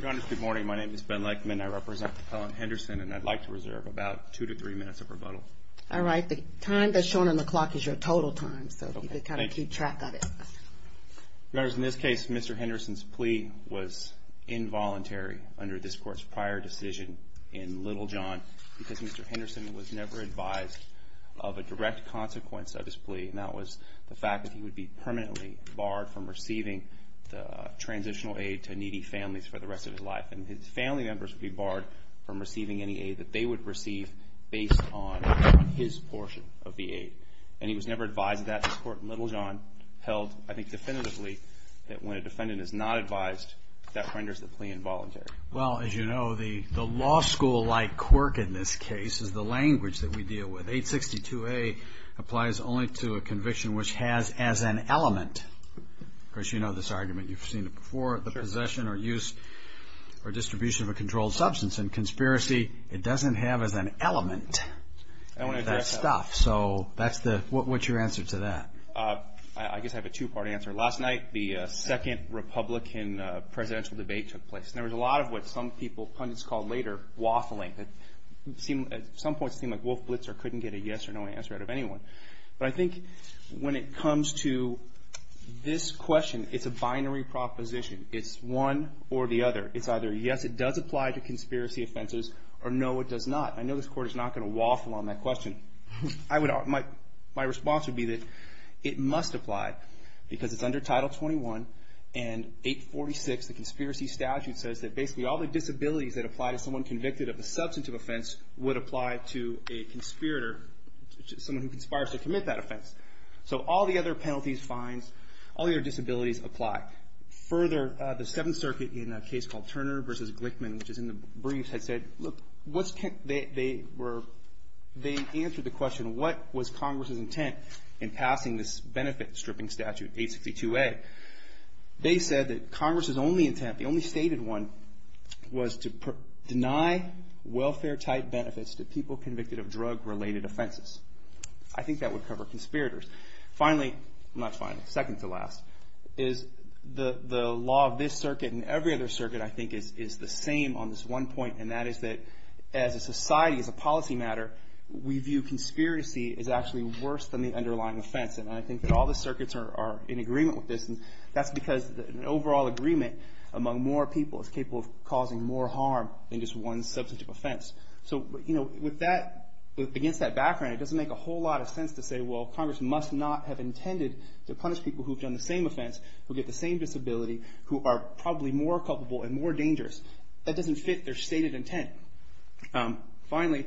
Good morning, my name is Ben Lakeman. I represent the Pellin Henderson and I'd like to reserve about two to three minutes of rebuttal. All right. The time that's shown on the clock is your total time, so you've got to keep track of it. In this case, Mr. Henderson's plea was involuntary under this court's prior decision in Little John because Mr. Henderson was never advised of a direct consequence of his plea. And that was the fact that he would be permanently barred from receiving the transitional aid to needy families for the rest of his life. And his family members would be barred from receiving any aid that they would receive based on his portion of the aid. And he was never advised of that. This court in Little John held, I think definitively, that when a defendant is not advised, that renders the plea involuntary. Well, as you know, the law school-like quirk in this case is the language that we deal with. 862A applies only to a conviction which has as an element. Of course, you know this argument. You've seen it before. The possession or use or distribution of a controlled substance in conspiracy, it doesn't have as an element of that stuff. So what's your answer to that? I guess I have a two-part answer. Last night, the second Republican presidential debate took place. And there was a lot of what some people, pundits called later, waffling. At some point, it seemed like Wolf Blitzer couldn't get a yes or no answer out of anyone. But I think when it comes to this question, it's a binary proposition. It's one or the other. It's either yes, it does apply to conspiracy offenses, or no, it does not. I know this court is not going to waffle on that question. My response would be that it must apply because it's under Title 21 and 846, the conspiracy statute, says that basically all the disabilities that apply to someone convicted of a substantive offense would apply to a conspirator, someone who conspires to commit that offense. So all the other penalties, fines, all the other disabilities apply. Further, the Seventh Circuit in a case called Turner v. Glickman, which is in the briefs, they answered the question, what was Congress's intent in passing this benefit stripping statute, 862A? They said that Congress's only intent, the only stated one, was to deny welfare-type benefits to people convicted of drug-related offenses. I think that would cover conspirators. Finally, not finally, second to last, is the law of this circuit and every other circuit, I think, is the same on this one point, and that is that as a society, as a policy matter, we view conspiracy as actually worse than the underlying offense, and I think that all the circuits are in agreement with this, and that's because an overall agreement among more people is capable of causing more harm than just one substantive offense. So with that, against that background, it doesn't make a whole lot of sense to say, well, Congress must not have intended to punish people who've done the same offense, who get the same disability, who are probably more culpable and more dangerous. That doesn't fit their stated intent. Finally,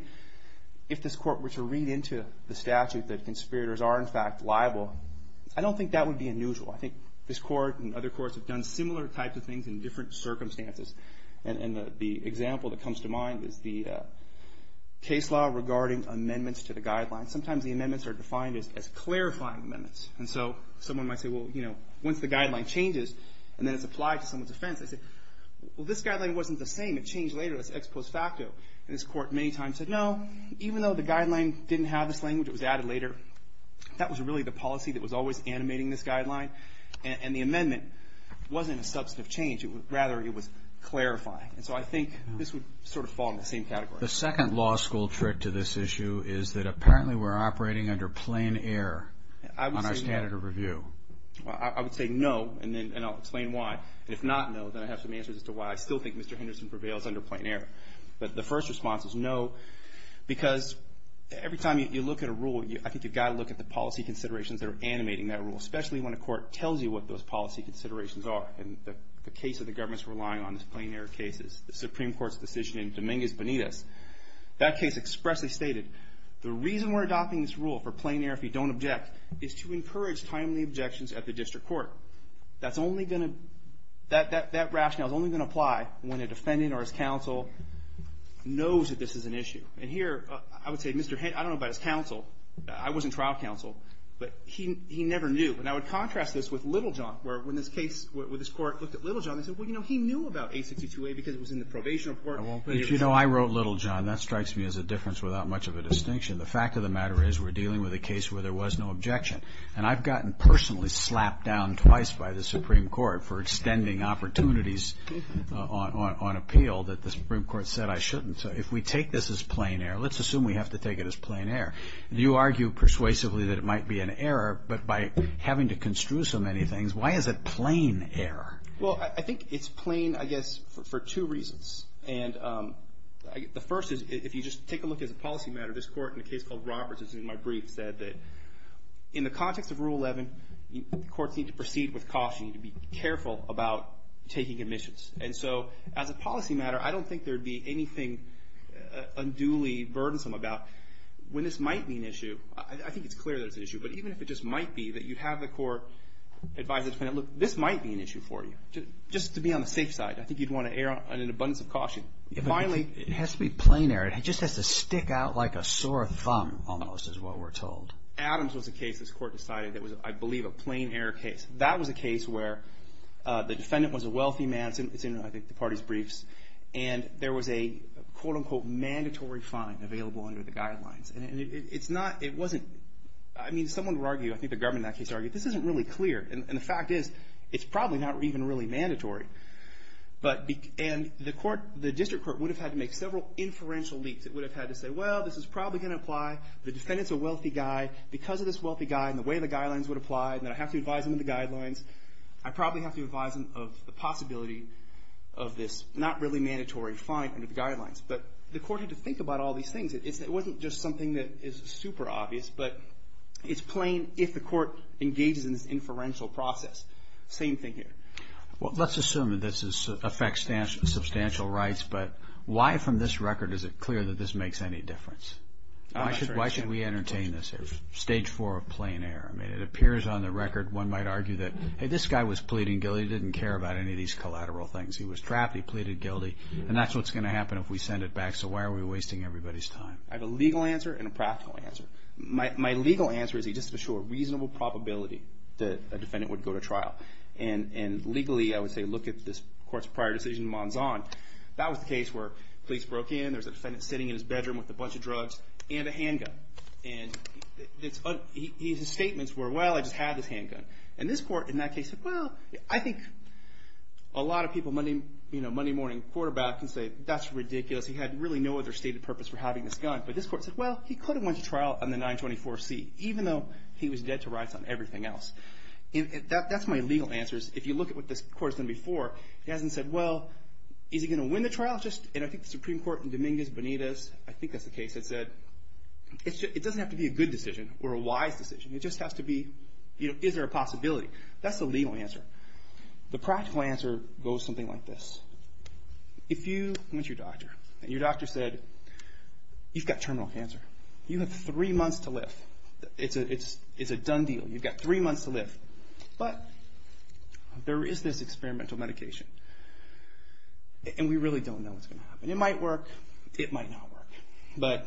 if this court were to read into the statute that conspirators are, in fact, liable, I don't think that would be unusual. I think this court and other courts have done similar types of things in different circumstances, and the example that comes to mind is the case law regarding amendments to the guidelines. Sometimes the amendments are defined as clarifying amendments, and so someone might say, well, you know, once the guideline changes and then it's applied to someone's offense, they say, well, this guideline wasn't the same. It changed later. That's ex post facto, and this court many times said, no, even though the guideline didn't have this language, it was added later, that was really the policy that was always animating this guideline, and the amendment wasn't a substantive change. Rather, it was clarifying, and so I think this would sort of fall in the same category. The second law school trick to this issue is that apparently we're operating under plain error on our standard of review. I would say no, and then I'll explain why, and if not no, then I have some answers as to why I still think Mr. Henderson prevails under plain error, but the first response is no because every time you look at a rule, I think you've got to look at the policy considerations that are animating that rule, especially when a court tells you what those policy considerations are, and the case that the government's relying on is plain error cases. The Supreme Court's decision in Dominguez Benitez, that case expressly stated, the reason we're adopting this rule for plain error if you don't object is to encourage timely objections at the district court. That rationale is only going to apply when a defendant or his counsel knows that this is an issue, and here I would say, I don't know about his counsel, I wasn't trial counsel, but he never knew, and I would contrast this with Littlejohn, where when this court looked at Littlejohn, they said, well, you know, he knew about 862A because it was in the probation report. You know, I wrote Littlejohn. That strikes me as a difference without much of a distinction. The fact of the matter is we're dealing with a case where there was no objection, and I've gotten personally slapped down twice by the Supreme Court for extending opportunities on appeal that the Supreme Court said I shouldn't. So if we take this as plain error, let's assume we have to take it as plain error. You argue persuasively that it might be an error, but by having to construe so many things, why is it plain error? Well, I think it's plain, I guess, for two reasons. And the first is if you just take a look as a policy matter, this Court in a case called Roberts, as in my brief, said that in the context of Rule 11, courts need to proceed with caution. You need to be careful about taking admissions. And so as a policy matter, I don't think there would be anything unduly burdensome about when this might be an issue, I think it's clear that it's an issue, and look, this might be an issue for you. Just to be on the safe side, I think you'd want to err on an abundance of caution. It has to be plain error. It just has to stick out like a sore thumb, almost, is what we're told. Adams was a case this Court decided that was, I believe, a plain error case. That was a case where the defendant was a wealthy man. It's in, I think, the party's briefs. And there was a, quote, unquote, mandatory fine available under the guidelines. And it's not, it wasn't, I mean, someone would argue, I think the government in that case argued, this isn't really clear. And the fact is, it's probably not even really mandatory. And the District Court would have had to make several inferential leaps. It would have had to say, well, this is probably going to apply. The defendant's a wealthy guy. Because of this wealthy guy and the way the guidelines would apply and that I have to advise him of the guidelines, I probably have to advise him of the possibility of this not really mandatory fine under the guidelines. But the Court had to think about all these things. It wasn't just something that is super obvious, but it's plain if the Court engages in this inferential process. Same thing here. Well, let's assume that this affects substantial rights. But why from this record is it clear that this makes any difference? Why should we entertain this here? Stage four of plain error. I mean, it appears on the record one might argue that, hey, this guy was pleading guilty. He didn't care about any of these collateral things. He was trapped. He pleaded guilty. And that's what's going to happen if we send it back. So why are we wasting everybody's time? I have a legal answer and a practical answer. My legal answer is just to show a reasonable probability that a defendant would go to trial. And legally, I would say look at this Court's prior decision in Monzon. That was the case where police broke in, there was a defendant sitting in his bedroom with a bunch of drugs and a handgun. And his statements were, well, I just had this handgun. And this Court in that case said, well, I think a lot of people, Monday morning quarterback, can say that's ridiculous. He had really no other stated purpose for having this gun. But this Court said, well, he could have went to trial on the 924C, even though he was dead to rights on everything else. That's my legal answer is if you look at what this Court has done before, it hasn't said, well, is he going to win the trial? And I think the Supreme Court in Dominguez-Bonitas, I think that's the case, it said it doesn't have to be a good decision or a wise decision. It just has to be, is there a possibility? That's the legal answer. The practical answer goes something like this. If you went to your doctor and your doctor said, you've got terminal cancer. You have three months to live. It's a done deal. You've got three months to live. But there is this experimental medication. And we really don't know what's going to happen. It might work. It might not work. But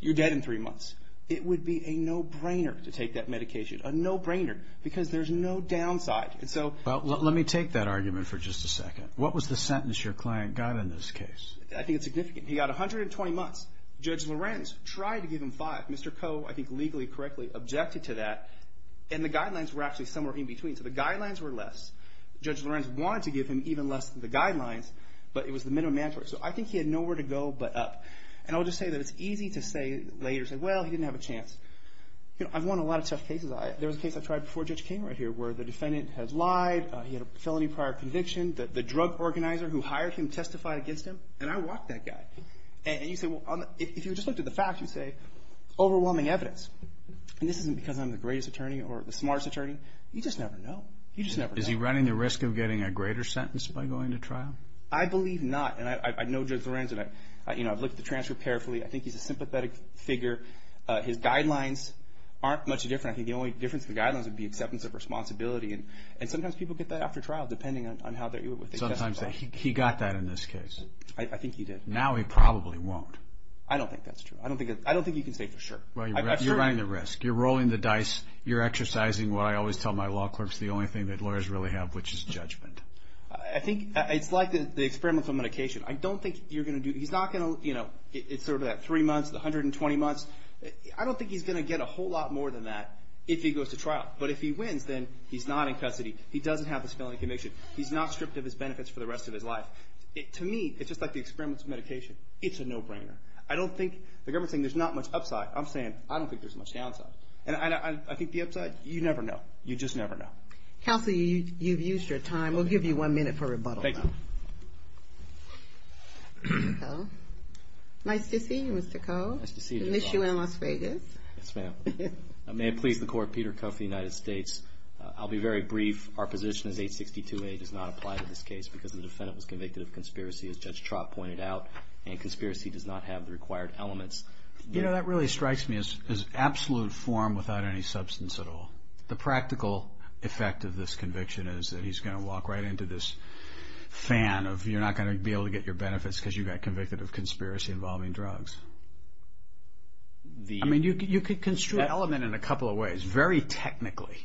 you're dead in three months. It would be a no-brainer to take that medication, a no-brainer, because there's no downside. Let me take that argument for just a second. What was the sentence your client got in this case? I think it's significant. He got 120 months. Judge Lorenz tried to give him five. Mr. Koh, I think, legally, correctly, objected to that. And the guidelines were actually somewhere in between. So the guidelines were less. Judge Lorenz wanted to give him even less than the guidelines, but it was the minimum mandatory. So I think he had nowhere to go but up. And I'll just say that it's easy to say later, say, well, he didn't have a chance. I've won a lot of tough cases. There was a case I tried before Judge King right here where the defendant has lied. He had a felony prior conviction. The drug organizer who hired him testified against him, and I walked that guy. And you say, well, if you just looked at the facts, you'd say overwhelming evidence. And this isn't because I'm the greatest attorney or the smartest attorney. You just never know. You just never know. Is he running the risk of getting a greater sentence by going to trial? I believe not. And I know Judge Lorenz, and I've looked at the transfer carefully. I think he's a sympathetic figure. His guidelines aren't much different. I think the only difference in the guidelines would be acceptance of responsibility. And sometimes people get that after trial depending on what they testify. Sometimes. He got that in this case. I think he did. Now he probably won't. I don't think that's true. I don't think you can say for sure. Well, you're running the risk. You're rolling the dice. You're exercising what I always tell my law clerks, the only thing that lawyers really have, which is judgment. I think it's like the experiment for medication. I don't think you're going to do it. He's not going to, you know, it's sort of that three months, the 120 months. I don't think he's going to get a whole lot more than that if he goes to trial. But if he wins, then he's not in custody. He doesn't have this felony conviction. He's not stripped of his benefits for the rest of his life. To me, it's just like the experiments of medication. It's a no-brainer. I don't think, the government's saying there's not much upside. I'm saying I don't think there's much downside. And I think the upside, you never know. You just never know. Counsel, you've used your time. We'll give you one minute for rebuttal. Thank you. Nice to see you, Mr. Koh. Nice to see you as well. I miss you in Las Vegas. Yes, ma'am. May it please the Court. Peter Kuff of the United States. I'll be very brief. Our position is 862A does not apply to this case because the defendant was convicted of conspiracy, as Judge Trott pointed out, and conspiracy does not have the required elements. You know, that really strikes me as absolute form without any substance at all. The practical effect of this conviction is that he's going to walk right into this fan of you're not going to be able to get your benefits because you got convicted of conspiracy involving drugs. I mean, you could construe that element in a couple of ways. Very technically,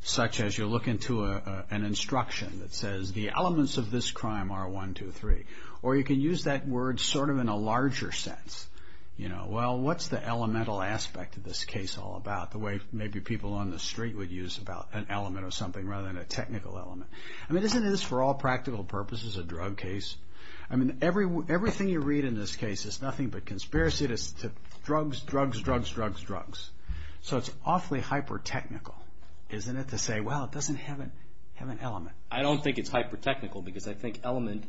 such as you look into an instruction that says, the elements of this crime are 1, 2, 3. Or you could use that word sort of in a larger sense. You know, well, what's the elemental aspect of this case all about? The way maybe people on the street would use an element of something rather than a technical element. I mean, isn't this, for all practical purposes, a drug case? I mean, everything you read in this case is nothing but conspiracy to drugs, drugs, drugs, drugs, drugs. So it's awfully hyper-technical, isn't it, to say, well, it doesn't have an element. I don't think it's hyper-technical because I think element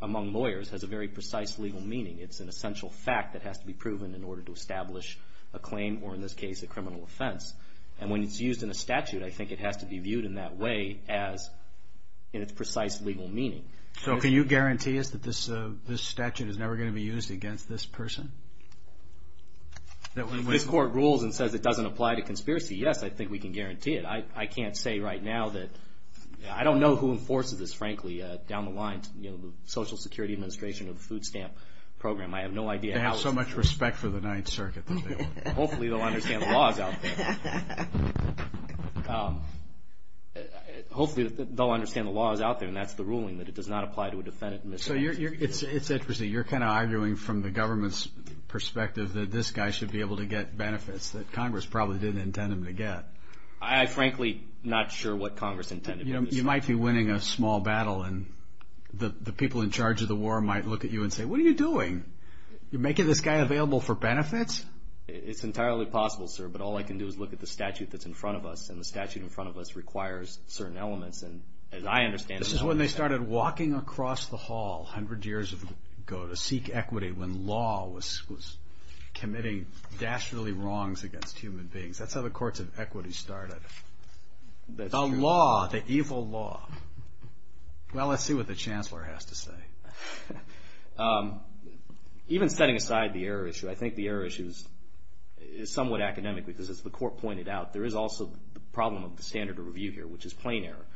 among lawyers has a very precise legal meaning. It's an essential fact that has to be proven in order to establish a claim or, in this case, a criminal offense. And when it's used in a statute, I think it has to be viewed in that way as in its precise legal meaning. So can you guarantee us that this statute is never going to be used against this person? If this court rules and says it doesn't apply to conspiracy, yes, I think we can guarantee it. I can't say right now that – I don't know who enforces this, frankly, down the line. You know, the Social Security Administration or the food stamp program. I have no idea how – They have so much respect for the Ninth Circuit that they would. Hopefully they'll understand the laws out there. Hopefully they'll understand the laws out there, and that's the ruling that it does not apply to a defendant in this statute. So it's interesting. You're kind of arguing from the government's perspective that this guy should be able to get benefits that Congress probably didn't intend him to get. I'm frankly not sure what Congress intended him to get. You might be winning a small battle, and the people in charge of the war might look at you and say, what are you doing? You're making this guy available for benefits? It's entirely possible, sir, but all I can do is look at the statute that's in front of us, and the statute in front of us requires certain elements. And as I understand it, This is when they started walking across the hall 100 years ago to seek equity when law was committing dastardly wrongs against human beings. That's how the courts of equity started. The law, the evil law. Well, let's see what the chancellor has to say. Even setting aside the error issue, I think the error issue is somewhat academic, because as the court pointed out, there is also the problem of the standard of review here, which is plain error.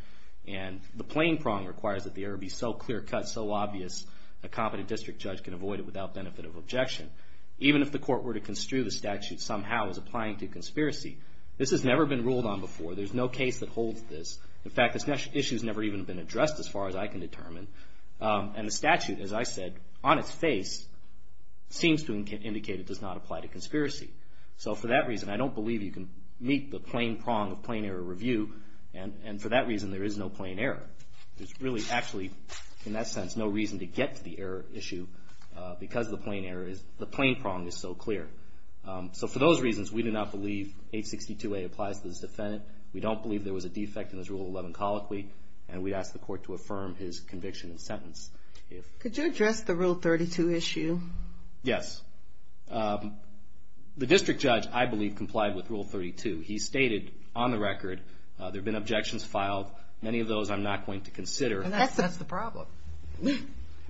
And the plain prong requires that the error be so clear cut, so obvious, a competent district judge can avoid it without benefit of objection. Even if the court were to construe the statute somehow as applying to conspiracy, this has never been ruled on before. There's no case that holds this. In fact, this issue has never even been addressed as far as I can determine. And the statute, as I said, on its face, seems to indicate it does not apply to conspiracy. So for that reason, I don't believe you can meet the plain prong of plain error review. And for that reason, there is no plain error. There's really actually, in that sense, no reason to get to the error issue because the plain error is, the plain prong is so clear. So for those reasons, we do not believe 862A applies to this defendant. We don't believe there was a defect in this Rule 11 colloquy. And we'd ask the court to affirm his conviction and sentence. Could you address the Rule 32 issue? Yes. The district judge, I believe, complied with Rule 32. He stated on the record, there have been objections filed, many of those I'm not going to consider. And that's the problem.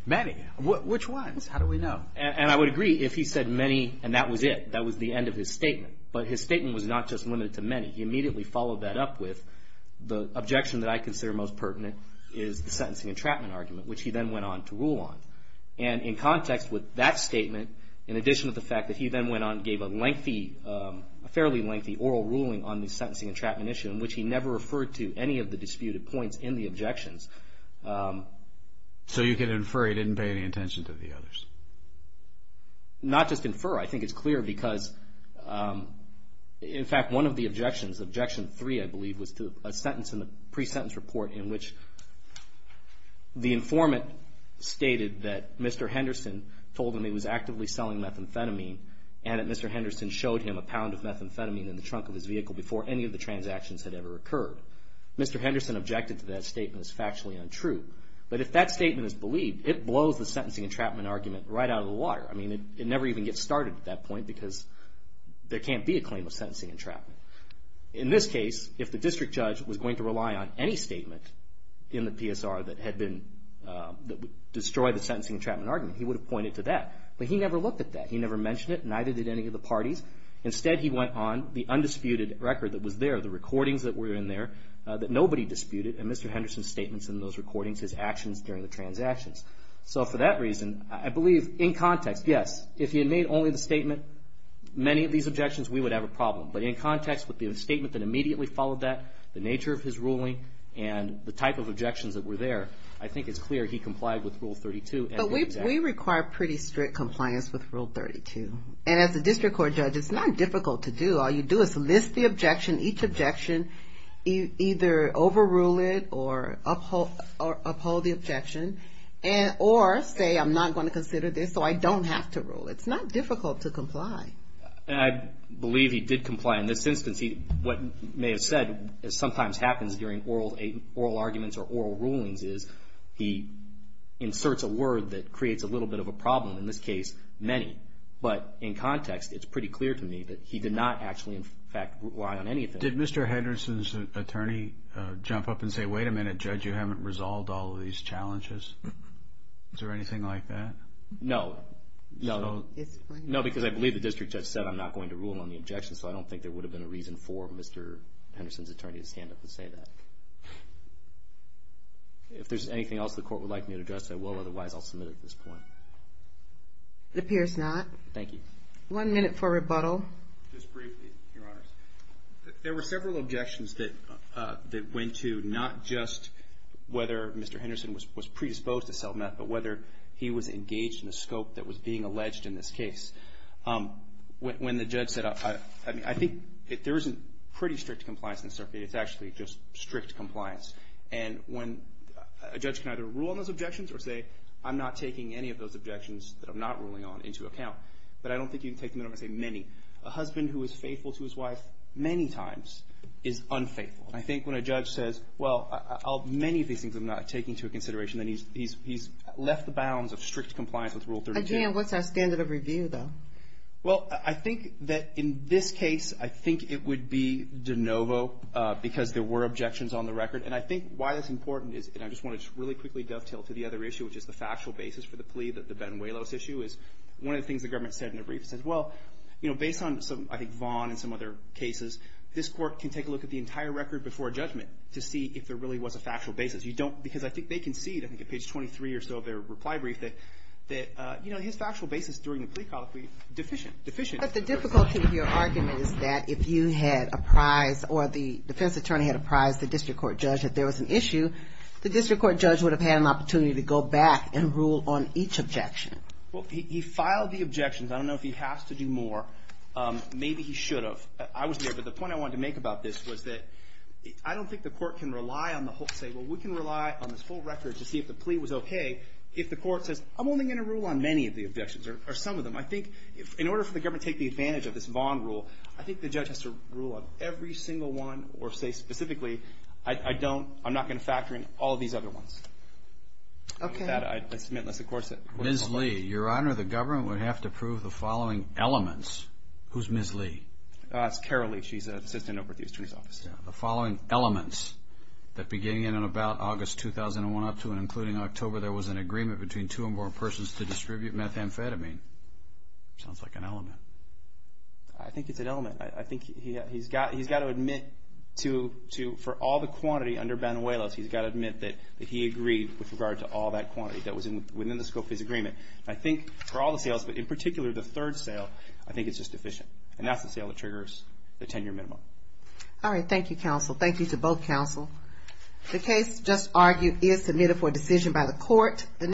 Many. Which ones? How do we know? And I would agree if he said many, and that was it. That was the end of his statement. But his statement was not just limited to many. He immediately followed that up with, the objection that I consider most pertinent is the sentencing entrapment argument, which he then went on to rule on. And in context with that statement, in addition to the fact that he then went on and gave a lengthy, a fairly lengthy oral ruling on the sentencing entrapment issue, in which he never referred to any of the disputed points in the objections. So you can infer he didn't pay any attention to the others? Not just infer. I think it's clear because, in fact, one of the objections, objection three, I believe, was to a sentence in the pre-sentence report in which the informant stated that Mr. Henderson told him he was actively selling methamphetamine and that Mr. Henderson showed him a pound of methamphetamine in the trunk of his vehicle before any of the transactions had ever occurred. Mr. Henderson objected to that statement as factually untrue. But if that statement is believed, it blows the sentencing entrapment argument right out of the water. I mean, it never even gets started at that point because there can't be a claim of sentencing entrapment. In this case, if the district judge was going to rely on any statement in the PSR that would destroy the sentencing entrapment argument, he would have pointed to that. But he never looked at that. He never mentioned it. Neither did any of the parties. Instead, he went on the undisputed record that was there, the recordings that were in there that nobody disputed, and Mr. Henderson's statements in those recordings, his actions during the transactions. So for that reason, I believe in context, yes, if he had made only the statement, many of these objections, we would have a problem. But in context with the statement that immediately followed that, the nature of his ruling, and the type of objections that were there, I think it's clear he complied with Rule 32. But we require pretty strict compliance with Rule 32. And as a district court judge, it's not difficult to do. All you do is list the objection, each objection, either overrule it or uphold the objection, or say, I'm not going to consider this, so I don't have to rule. It's not difficult to comply. And I believe he did comply. In this instance, what may have said, as sometimes happens during oral arguments or oral rulings, is he inserts a word that creates a little bit of a problem. In this case, many. But in context, it's pretty clear to me that he did not actually, in fact, rely on anything. Did Mr. Henderson's attorney jump up and say, wait a minute, judge, you haven't resolved all of these challenges? Is there anything like that? No. No, because I believe the district judge said, I'm not going to rule on the objection, so I don't think there would have been a reason for Mr. Henderson's attorney to stand up and say that. If there's anything else the court would like me to address, I will. Otherwise, I'll submit it at this point. Thank you. One minute for rebuttal. Just briefly, Your Honors. There were several objections that went to not just whether Mr. Henderson was predisposed to self-meth, but whether he was engaged in a scope that was being alleged in this case. When the judge said, I think there isn't pretty strict compliance in the circuit. It's actually just strict compliance. And when a judge can either rule on those objections or say, I'm not taking any of those objections that I'm not ruling on into account. But I don't think you can take them and say many. A husband who is faithful to his wife many times is unfaithful. And I think when a judge says, well, many of these things I'm not taking into consideration, then he's left the bounds of strict compliance with Rule 30. Again, what's our standard of review, though? Well, I think that in this case, I think it would be de novo because there were objections on the record. And I think why that's important is, and I just want to really quickly dovetail to the other issue, which is the factual basis for the plea, the Benuelos issue, is one of the things the government said in a brief. It says, well, based on, I think, Vaughn and some other cases, this court can take a look at the entire record before a judgment to see if there really was a factual basis. Because I think they concede, I think at page 23 or so of their reply brief, that his factual basis during the plea trial could be deficient. But the difficulty of your argument is that if you had apprised or the defense attorney had apprised the district court judge that there was an issue, the district court judge would have had an opportunity to go back and rule on each objection. Well, he filed the objections. I don't know if he has to do more. Maybe he should have. I wasn't there. But the point I wanted to make about this was that I don't think the court can rely on the whole to say, well, we can rely on this full record to see if the plea was okay, if the court says, I'm only going to rule on many of the objections or some of them. I think in order for the government to take advantage of this Vaughn rule, I think the judge has to rule on every single one or say specifically, I don't, I'm not going to factor in all of these other ones. With that, I submit unless the court says otherwise. Ms. Lee, Your Honor, the government would have to prove the following elements. Who's Ms. Lee? That's Carol Lee. She's an assistant over at the district attorney's office. The following elements that beginning in about August 2001 up to and including October, there was an agreement between two and more persons to distribute methamphetamine. Sounds like an element. I think it's an element. I think he's got to admit to, for all the quantity under Banuelos, he's got to admit that he agreed with regard to all that quantity that was within the scope of his agreement. I think for all the sales, but in particular the third sale, I think it's just deficient. And that's the sale that triggers the 10-year minimum. All right. Thank you, counsel. Thank you to both counsel. The case just argued is submitted for decision by the court.